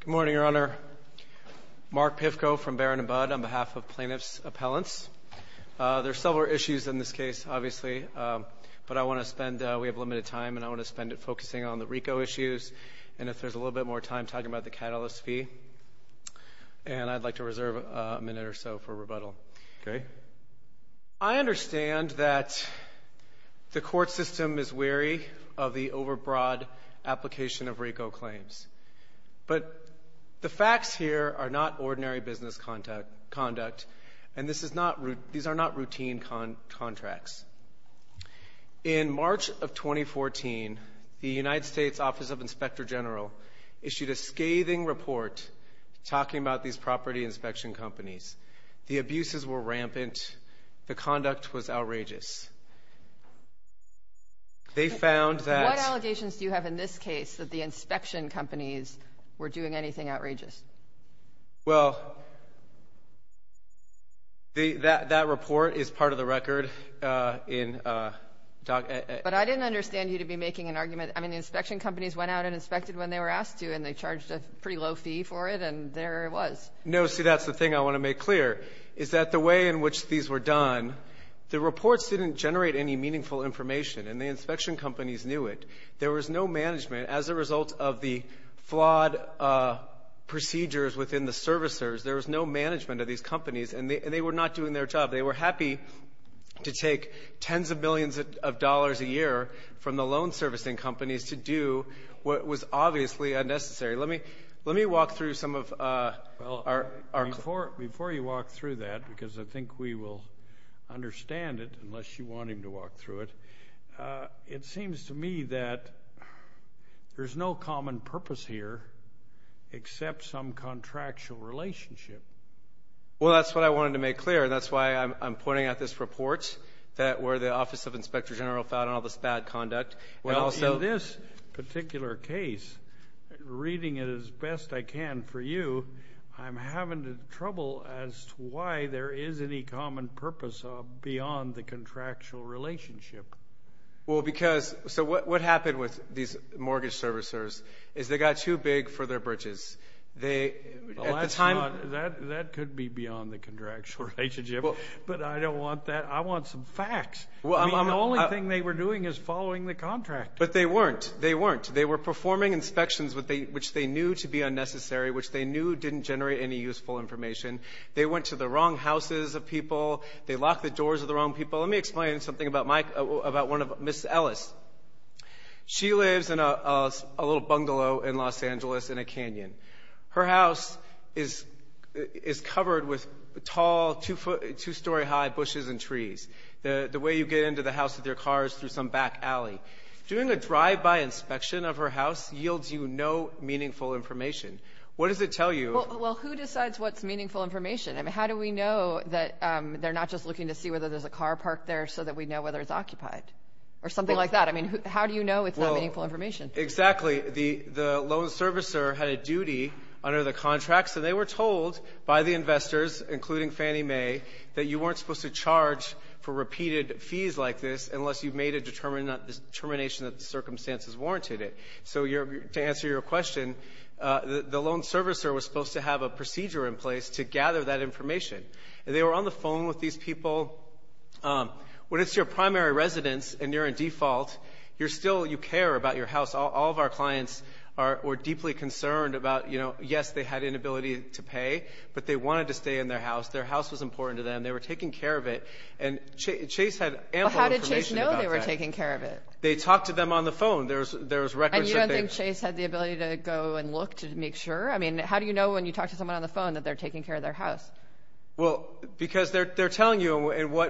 Good morning, Your Honor. Mark Pivko from Barron & Budd on behalf of plaintiff's appellants. There's several issues in this case, obviously, but I want to spend we have limited time and I want to spend it focusing on the RICO issues and if there's a little bit more time talking about the catalyst fee and I'd like to reserve a minute or so for rebuttal. Okay. I understand that the court system is But the facts here are not ordinary business conduct and this is not these are not routine contracts. In March of 2014, the United States Office of Inspector General issued a scathing report talking about these property inspection companies. The abuses were rampant. The conduct was outrageous. They found that... What allegations do you have in this case that the inspection companies were doing anything outrageous? Well, that report is part of the record in... But I didn't understand you to be making an argument. I mean, the inspection companies went out and inspected when they were asked to and they charged a pretty low fee for it and there it was. No, see, that's the thing I want to make clear is that the way in which these were done, the reports didn't generate any meaningful information and the inspection companies knew it. There was no management as a result of the flawed procedures within the servicers. There was no management of these companies and they were not doing their job. They were happy to take tens of millions of dollars a year from the loan servicing companies to do what was obviously unnecessary. Let me walk through some of our... Before you walk through that, because I think we will understand it unless you want him to walk through it, it seems to me that there's no common purpose here except some contractual relationship. Well, that's what I wanted to make clear and that's why I'm pointing out this report that where the Office of Inspector General found all this bad conduct. Well, so... In this particular case, reading it as best I can for you, I'm having trouble as to why there is any common purpose beyond the contractual relationship. Well, because... So what happened with these mortgage servicers is they got too big for their bridges. At the time... That could be beyond the contractual relationship, but I don't want that. I want some facts. The only thing they were doing is following the contract. But they weren't. They weren't. They were performing inspections which they knew to be unnecessary, which they knew didn't generate any useful information. They went to the wrong houses of people. They locked the doors of the wrong people. Let me explain something about one of Ms. Ellis. She lives in a little bungalow in Los Angeles in a canyon. Her house is covered with tall, two-story high bushes and trees. The way you get into the house with your car is through some back alley. Doing a drive-by inspection of her house yields you no meaningful information. What does it tell you? Well, who decides what's meaningful information? I mean, how do we know that they're not just looking to see whether there's a car parked there so that we know whether it's occupied or something like that? I mean, how do you know it's not meaningful information? Exactly. The loan servicer had a duty under the contracts, and they were told by the investors, including Fannie Mae, that you weren't supposed to charge for repeated fees like this unless you've made a determination that the loan servicer was supposed to have a procedure in place to gather that information. They were on the phone with these people. When it's your primary residence and you're in default, you still care about your house. All of our clients were deeply concerned about, yes, they had inability to pay, but they wanted to stay in their house. Their house was important to them. They were taking care of it, and Chase had ample information about that. How did Chase know they were taking care of it? They talked to them on the phone. There's records that they... Sure. I mean, how do you know when you talk to someone on the phone that they're taking care of their house? Well, because they're telling you.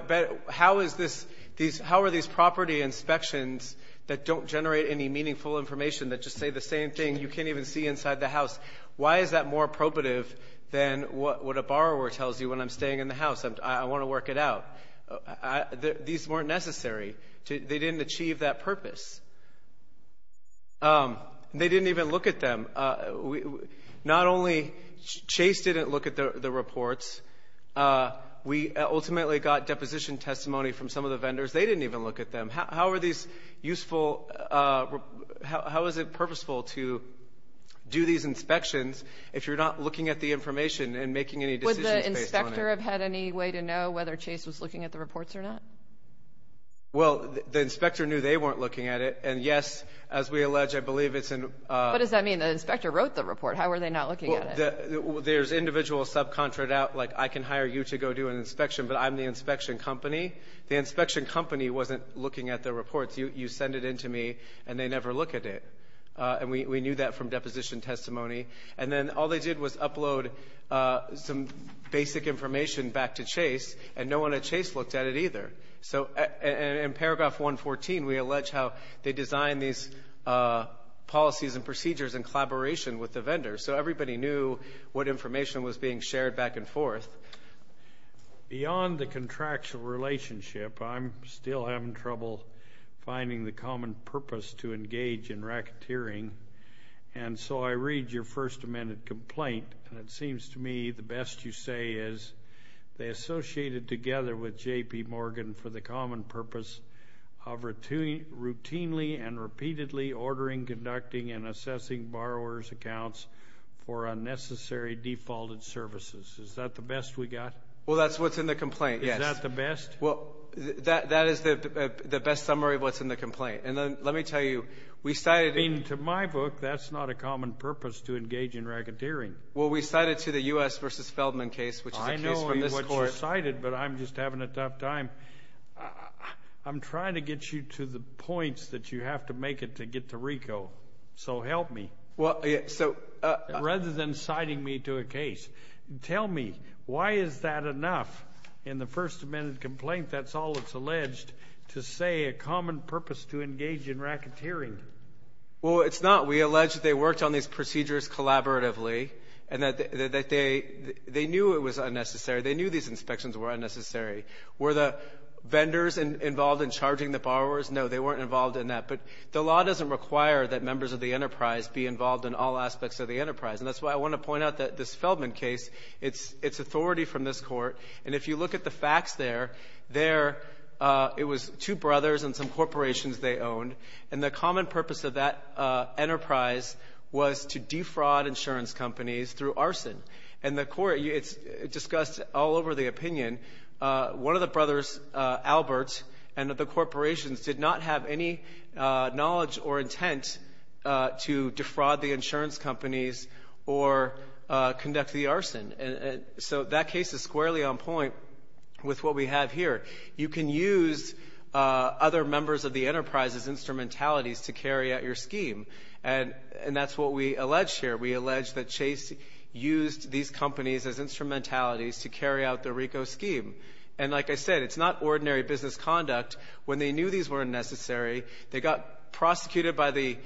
How are these property inspections that don't generate any meaningful information that just say the same thing you can't even see inside the house? Why is that more probative than what a borrower tells you when I'm staying in the house? I want to work it out. These weren't necessary. They didn't achieve that purpose. They didn't even look at them. Not only Chase didn't look at the reports, we ultimately got deposition testimony from some of the vendors. They didn't even look at them. How are these useful... How is it purposeful to do these inspections if you're not looking at the information and making any decisions based on it? Would the inspector have had any way to know whether Chase was looking at the reports or not? Well, the inspector knew they weren't looking at it. And yes, as we allege, I believe it's in... What does that mean? The inspector wrote the report. How are they not looking at it? There's individual subcontract out, like, I can hire you to go do an inspection, but I'm the inspection company. The inspection company wasn't looking at the reports. You send it in to me and they never look at it. And we knew that from deposition testimony. And then all they did was upload some basic information back to Chase and no one at Chase looked at it either. So in paragraph 114, we allege how they designed these policies and procedures in collaboration with the vendors. So everybody knew what information was being shared back and forth. Beyond the contractual relationship, I'm still having trouble finding the common purpose to engage in racketeering. And so I read your First Amendment complaint and it seems to me the best you say is, they associated together with J.P. Morgan for the common purpose of routinely and repeatedly ordering, conducting, and assessing borrower's accounts for unnecessary defaulted services. Is that the best we got? Well, that's what's in the complaint, yes. Is that the best? Well, that is the best summary of what's in the complaint. And then let me tell you, we started... I mean, to my book, that's not a common purpose to engage in racketeering. Well, we cited to the U.S. versus Feldman case, which is a case from this court. I know what you cited, but I'm just having a tough time. I'm trying to get you to the points that you have to make it to get to RICO. So help me. Well, so... Rather than citing me to a case. Tell me, why is that enough? In the First Amendment complaint, that's all it's alleged to say, a common purpose to engage in racketeering. Well, it's not. We allege that they worked on these procedures collaboratively and that they knew it was unnecessary. They knew these inspections were unnecessary. Were the vendors involved in charging the borrowers? No, they weren't involved in that. But the law doesn't require that members of the enterprise be involved in all aspects of the enterprise. And that's why I want to point out that this Feldman case, it's authority from this court. And if you look at the facts there, there, it was two brothers and some corporations they owned. And the common purpose of that enterprise was to defraud insurance companies through arson. And the court, it's discussed all over the opinion. One of the brothers, Albert, and the corporations did not have any knowledge or intent to defraud the insurance companies or conduct the arson. And so that case is squarely on point with what we have here. You can use other members of the enterprise as instrumentalities to carry out your scheme. And that's what we allege here. We allege that Chase used these companies as instrumentalities to carry out the RICO scheme. And like I said, it's not ordinary business conduct. When they knew these weren't necessary, they got prosecuted by the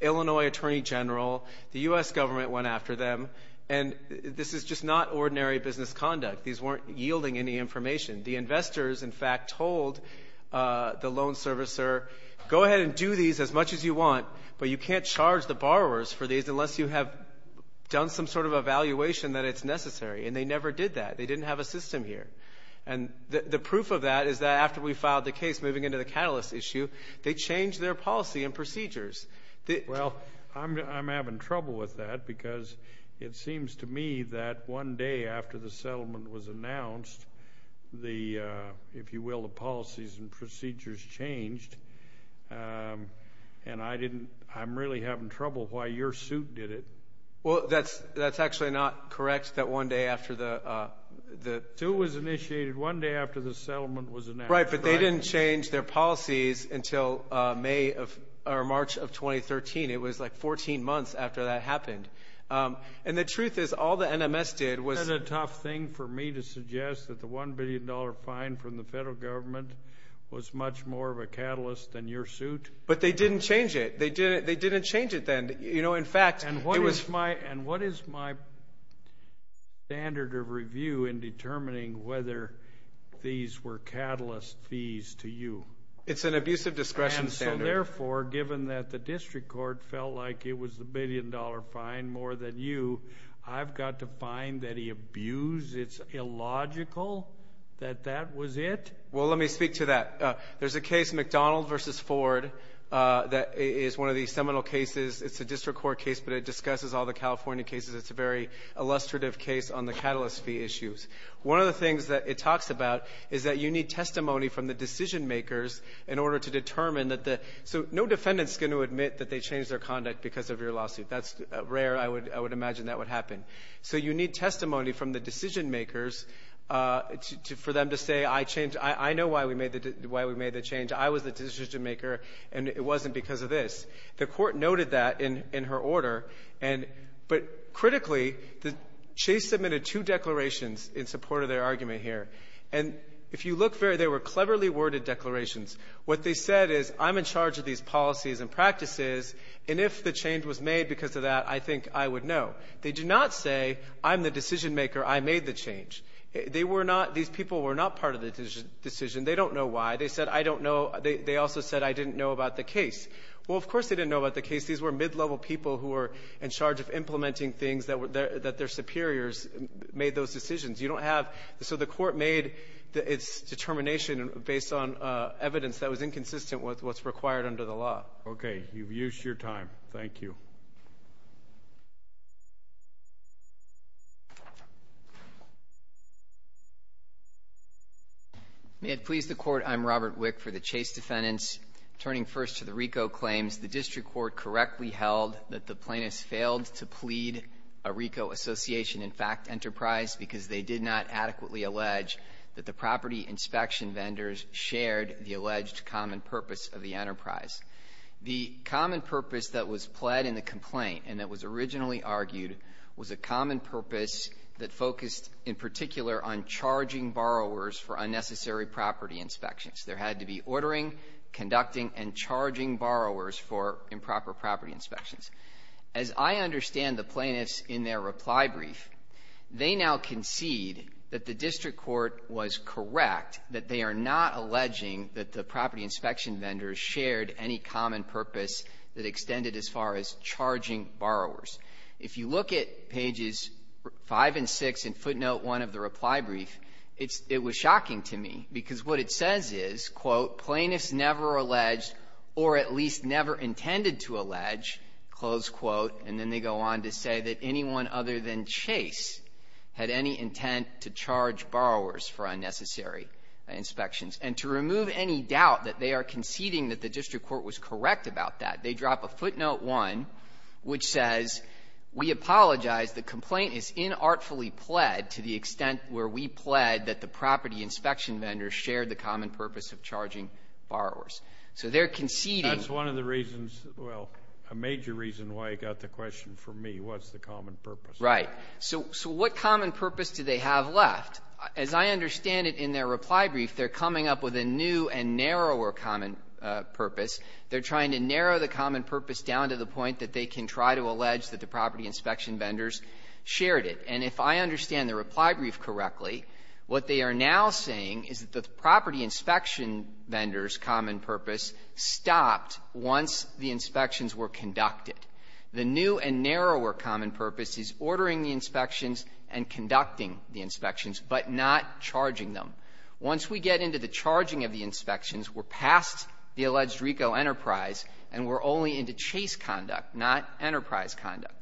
Illinois Attorney General. The U.S. government went after them. And this is just not ordinary business conduct. These weren't yielding any information. The investors, in fact, told the loan servicer, go ahead and do these as much as you want, but you can't charge the borrowers for these unless you have done some sort of evaluation that it's necessary. And they never did that. They didn't have a system here. And the proof of that is that after we filed the case moving into the catalyst issue, they changed their policy and procedures. Well, I'm having trouble with that because it seems to me that one day after the the, if you will, the policies and procedures changed, and I didn't, I'm really having trouble why your suit did it. Well, that's, that's actually not correct, that one day after the, the... Sue was initiated one day after the settlement was announced. Right, but they didn't change their policies until May of, or March of 2013. It was like 14 months after that happened. And the truth is, all the NMS did was... Is it a tough thing for me to suggest that the $1 billion fine from the federal government was much more of a catalyst than your suit? But they didn't change it. They didn't, they didn't change it then. You know, in fact, it was... And what is my, and what is my standard of review in determining whether these were catalyst fees to you? It's an abusive discretion standard. And so therefore, given that the district court felt like it was the billion dollar fine more than you, I've got to find that he abused, it's illogical that that was it? Well, let me speak to that. There's a case, McDonald v. Ford, that is one of the seminal cases. It's a district court case, but it discusses all the California cases. It's a very illustrative case on the catalyst fee issues. One of the things that it talks about is that you need testimony from the decision makers in order to determine that the, so no defendant's going to admit that they changed their lawsuit. That's rare. I would, I would imagine that would happen. So you need testimony from the decision makers to, for them to say, I changed, I know why we made the, why we made the change. I was the decision maker and it wasn't because of this. The court noted that in, in her order. And, but critically, the, Chase submitted two declarations in support of their argument here. And if you look very, they were cleverly worded declarations. What they said is, I'm in charge of these policies and practices, and if the change was made because of that, I think I would know. They did not say, I'm the decision maker, I made the change. They were not, these people were not part of the decision. They don't know why. They said, I don't know. They, they also said, I didn't know about the case. Well, of course, they didn't know about the case. These were mid-level people who were in charge of implementing things that were, that their superiors made those decisions. You don't have, so the court made its determination based on evidence that was inconsistent with what's required under the law. Okay. You've used your time. Thank you. May it please the Court, I'm Robert Wick for the Chase defendants. Turning first to the RICO claims, the district court correctly held that the plaintiffs failed to plead a RICO association, in fact, enterprise, because they did not adequately allege that the property inspection vendors shared the alleged common purpose of the enterprise. The common purpose that was pled in the complaint, and that was originally argued, was a common purpose that focused, in particular, on charging borrowers for unnecessary property inspections. There had to be ordering, conducting, and charging borrowers for improper property inspections. As I understand the plaintiffs in their reply brief, they now concede that the district court was correct, that they are not alleging that the property inspection vendors shared any common purpose that extended as far as charging borrowers. If you look at pages 5 and 6 in footnote 1 of the reply brief, it's — it was shocking to me, because what it says is, quote, plaintiffs never alleged or at least never intended to allege, close quote, and then they go on to say that anyone other than Chase had any intent to charge borrowers for unnecessary inspections. And to remove any doubt that they are conceding that the district court was correct about that, they drop a footnote 1, which says, we apologize, the complaint is inartfully pled to the extent where we pled that the property inspection vendors shared the common purpose of charging borrowers. So they're conceding That's one of the reasons, well, a major reason why I got the question from me, what's the common purpose? Right. So what common purpose do they have left? As I understand it in their reply brief, they're coming up with a new and narrower common purpose. They're trying to narrow the common purpose down to the point that they can try to allege that the property inspection vendors shared it. And if I understand the reply brief correctly, what they are now saying is that the property inspection vendors' common purpose stopped once the inspections were conducted. The new and narrower common purpose is ordering the inspections and conducting the inspections, but not charging them. Once we get into the charging of the inspections, we're past the alleged RICO enterprise, and we're only into chase conduct, not enterprise conduct.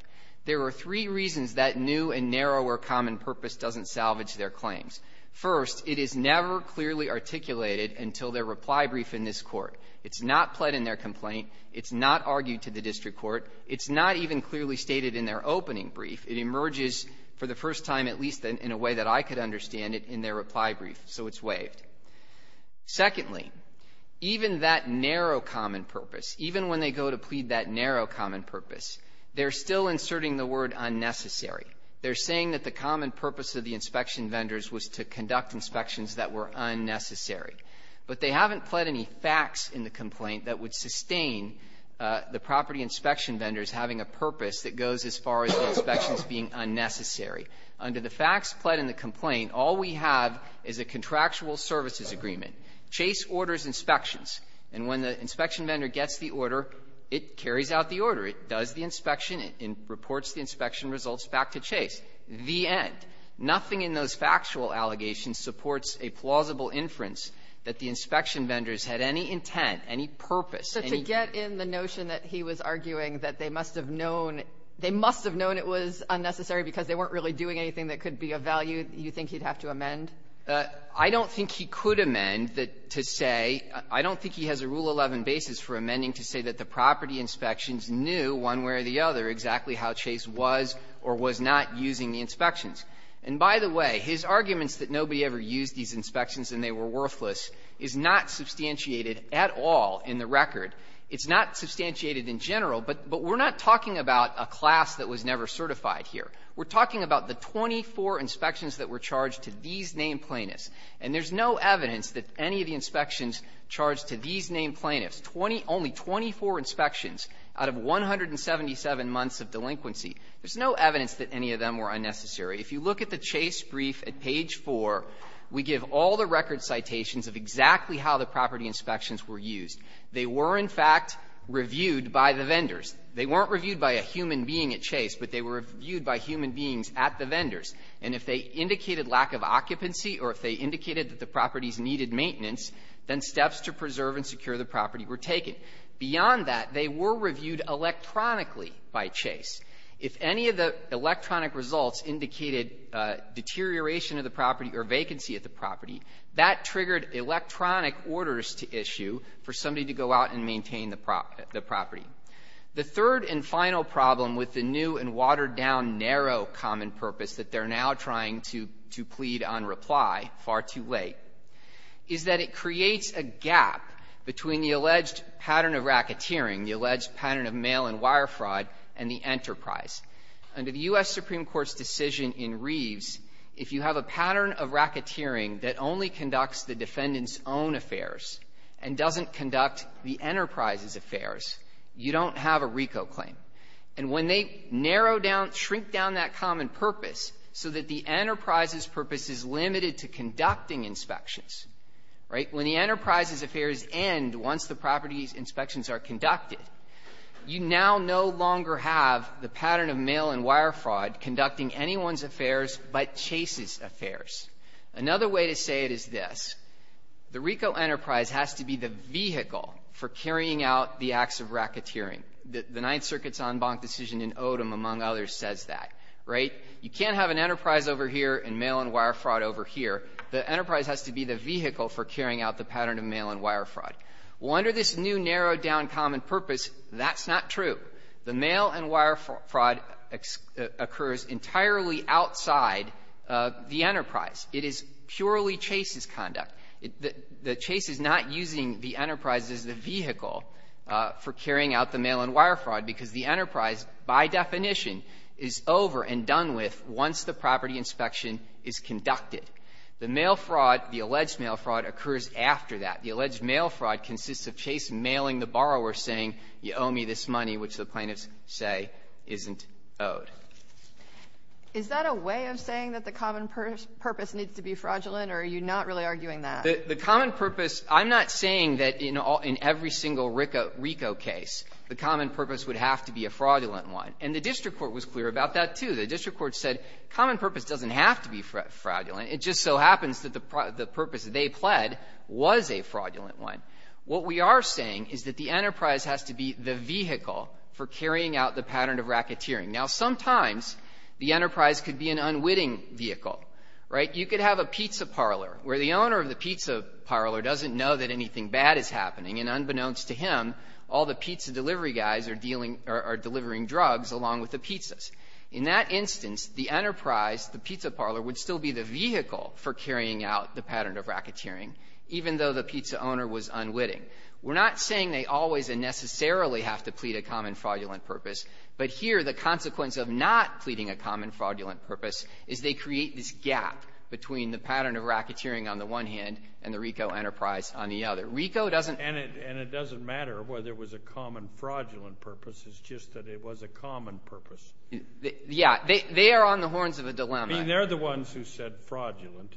There are three reasons that new and narrower common purpose doesn't salvage their claims. First, it is never clearly articulated until their reply brief in this Court. It's not pled in their complaint. It's not argued to the district court. It's not even clearly stated in their opening brief. It emerges for the first time, at least in a way that I could understand it, in their reply brief. So it's waived. Secondly, even that narrow common purpose, even when they go to plead that narrow common purpose, they're still inserting the word unnecessary. They're saying that the common purpose of the inspection vendors was to conduct inspections that were unnecessary. But they haven't pled any facts in the complaint that would sustain the property inspection vendors having a purpose that goes as far as inspections being unnecessary. Under the facts pled in the complaint, all we have is a contractual services agreement. Chase orders inspections. And when the inspection vendor gets the order, it carries out the order. It does the inspection. It reports the inspection results back to Chase. The end. Nothing in those factual allegations supports a plausible inference that the inspection vendors had any intent, any purpose, any ---- Sotomayor, are you arguing that they must have known they must have known it was unnecessary because they weren't really doing anything that could be of value you think he'd have to amend? I don't think he could amend to say ---- I don't think he has a Rule 11 basis for amending to say that the property inspections knew one way or the other exactly how Chase was or was not using the inspections. And by the way, his arguments that nobody ever used these inspections and they were worthless is not substantiated at all in the record. It's not substantiated in general, but we're not talking about a class that was never certified here. We're talking about the 24 inspections that were charged to these named plaintiffs. And there's no evidence that any of the inspections charged to these named plaintiffs, 20 ---- only 24 inspections out of 177 months of delinquency, there's no evidence that any of them were unnecessary. If you look at the Chase brief at page 4, we give all the record citations of exactly how the property inspections were used. They were, in fact, reviewed by the vendors. They weren't reviewed by a human being at Chase, but they were reviewed by human beings at the vendors. And if they indicated lack of occupancy or if they indicated that the properties needed maintenance, then steps to preserve and secure the property were taken. Beyond that, they were reviewed electronically by Chase. If any of the electronic results indicated deterioration of the property or vacancy at the property, that triggered electronic orders to issue for somebody to go out and maintain the property. The third and final problem with the new and watered-down, narrow common purpose that they're now trying to plead on reply, far too late, is that it creates a gap between the alleged pattern of racketeering, the alleged pattern of mail and wire fraud, and the enterprise. Under the U.S. Supreme Court's decision in Reeves, if you have a pattern of racketeering that only conducts the defendant's own affairs and doesn't conduct the enterprise's affairs, you don't have a RICO claim. And when they narrow down, shrink down that common purpose so that the enterprise's purpose is limited to conducting inspections, right, when the enterprise's affairs end once the property's inspections are conducted, you now no longer have the pattern of mail and wire fraud conducting anyone's affairs but Chase's affairs. Another way to say it is this. The RICO enterprise has to be the vehicle for carrying out the acts of racketeering. The Ninth Circuit's en banc decision in Odom, among others, says that, right? You can't have an enterprise over here and mail and wire fraud over here. The enterprise has to be the vehicle for carrying out the pattern of mail and wire fraud. Well, under this new, narrowed-down common purpose, that's not true. The mail and wire fraud occurs entirely outside the enterprise. It is purely Chase's conduct. The Chase is not using the enterprise as the vehicle for carrying out the mail and wire fraud because the enterprise, by definition, is over and done with once the property inspection is conducted. The mail fraud, the alleged mail fraud, occurs after that. The alleged mail fraud consists of Chase mailing the borrower, saying, you owe me this money, which the plaintiffs say isn't owed. Is that a way of saying that the common purpose needs to be fraudulent, or are you not really arguing that? The common purpose – I'm not saying that in every single RICO case the common purpose would have to be a fraudulent one. And the district court was clear about that, too. The district court said common purpose doesn't have to be fraudulent. It just so happens that the purpose that they pled was a fraudulent one. What we are saying is that the enterprise has to be the vehicle for carrying out the pattern of racketeering. Now, sometimes the enterprise could be an unwitting vehicle, right? You could have a pizza parlor where the owner of the pizza parlor doesn't know that anything bad is happening, and unbeknownst to him, all the pizza delivery guys are dealing or are delivering drugs along with the pizzas. In that instance, the enterprise, the pizza parlor, would still be the vehicle for carrying out the pattern of racketeering, even though the pizza owner was unwitting. We're not saying they always and necessarily have to plead a common fraudulent purpose, but here the consequence of not pleading a common fraudulent purpose is they create this gap between the pattern of racketeering on the one hand and the RICO enterprise on the other. RICO doesn't – And it doesn't matter whether it was a common fraudulent purpose. It's just that it was a common purpose. Yeah. They are on the horns of a dilemma. I mean, they're the ones who said fraudulent.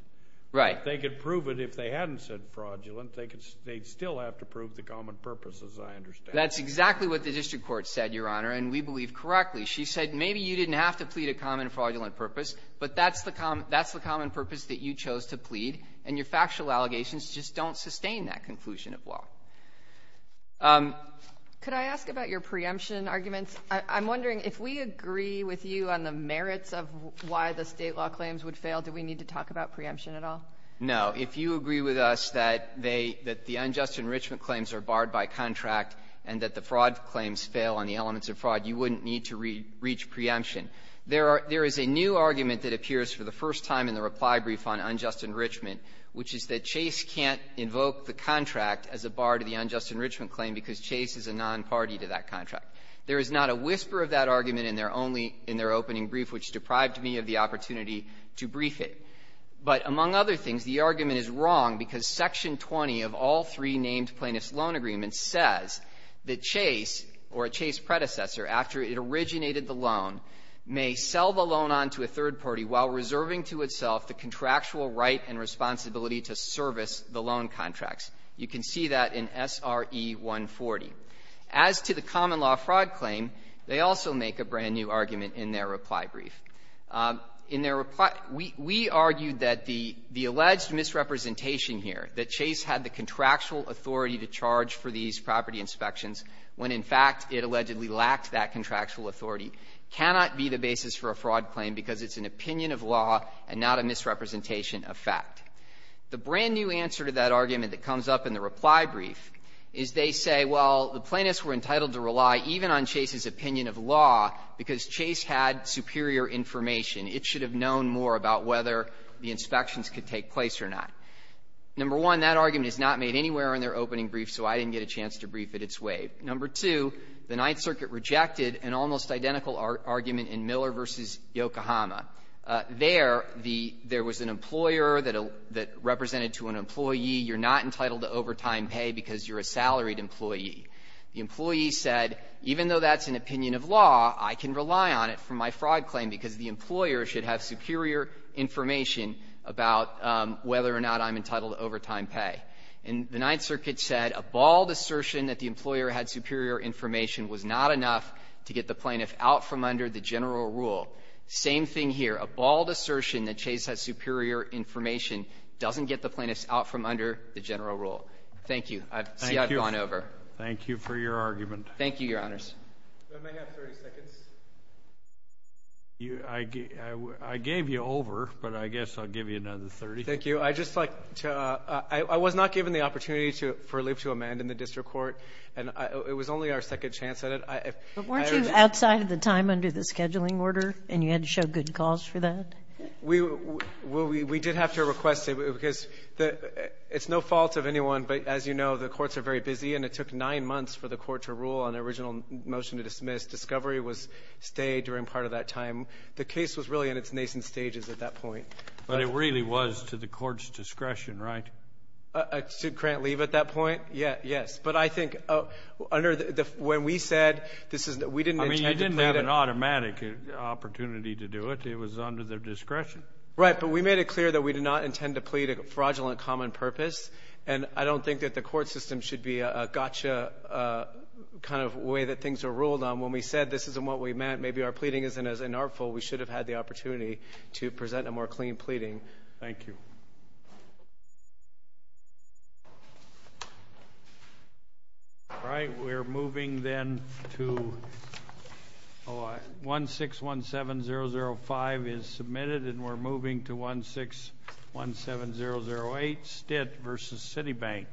Right. They could prove it if they hadn't said fraudulent. They'd still have to prove the common purpose, as I understand. That's exactly what the district court said, Your Honor, and we believe correctly. She said maybe you didn't have to plead a common fraudulent purpose, but that's the common purpose that you chose to plead, and your factual allegations just don't sustain that conclusion of law. Could I ask about your preemption arguments? I'm wondering if we agree with you on the merits of why the State law claims would fail, do we need to talk about preemption at all? No. If you agree with us that they – that the unjust enrichment claims are barred by contract and that the fraud claims fail on the elements of fraud, you wouldn't need to reach preemption. There are – there is a new argument that appears for the first time in the reply brief on unjust enrichment, which is that Chase can't invoke the contract as a bar to the unjust enrichment claim because Chase is a nonparty to that contract. There is not a whisper of that argument in their only – in their opening brief, which deprived me of the opportunity to brief it. But among other things, the argument is wrong because Section 20 of all three named plaintiff's loan agreements says that Chase or a Chase predecessor, after it originated the loan, may sell the loan on to a third party while reserving to itself the contractual right and responsibility to service the loan contracts. You can see that in SRE 140. As to the common law fraud claim, they also make a brand-new argument in their reply brief. In their reply – we – we argued that the – the alleged misrepresentation here, that Chase had the contractual authority to charge for these property inspections when, in fact, it allegedly lacked that contractual authority, cannot be the basis for a fraud claim because it's an opinion of law and not a misrepresentation of fact. The brand-new answer to that argument that comes up in the reply brief is they say, well, the plaintiffs were entitled to rely even on Chase's opinion of law because Chase had superior information. It should have known more about whether the inspections could take place or not. Number one, that argument is not made anywhere in their opening brief, so I didn't get a chance to brief it its way. Number two, the Ninth Circuit rejected an almost identical argument in Miller v. Yokohama. There, the – there was an employer that – that represented to an employee, you're not entitled to overtime pay because you're a salaried employee. The employee said, even though that's an opinion of law, I can rely on it for my fraud claim because the employer should have superior information about whether or not I'm entitled to overtime pay. And the Ninth Circuit said a bald assertion that the employer had superior information was not enough to get the plaintiff out from under the general rule. Same thing here. A bald assertion that Chase has superior information doesn't get the plaintiffs out from under the general rule. Thank you. I see I've gone over. Thank you for your argument. Thank you, Your Honors. You may have 30 seconds. I gave you over, but I guess I'll give you another 30. Thank you. I'd just like to – I was not given the opportunity to – for leave to amend in the district court, and it was only our second chance at it. But weren't you outside of the time under the scheduling order, and you had to show good cause for that? We did have to request it because it's no fault of anyone, but as you know, the courts are very busy, and it took nine months for the court to rule on the original motion to dismiss. Discovery was stayed during part of that time. The case was really in its nascent stages at that point. But it really was to the court's discretion, right? To grant leave at that point? Yes. But I think under the – when we said this is – we didn't intend to plan it. I mean, you didn't have an automatic opportunity to do it. It was under their discretion. Right. But we made it clear that we did not intend to plead a fraudulent common purpose, and I don't think that the court system should be a gotcha kind of way that things are ruled on. When we said this isn't what we meant, maybe our pleading isn't as inartful. We should have had the opportunity to present a more clean pleading. Thank you. All right. We're moving then to – oh, 1-6-1-7-0-0-5 is submitted, and we're moving to 1-6-1-7-0-0-8, Stitt v. Citibank.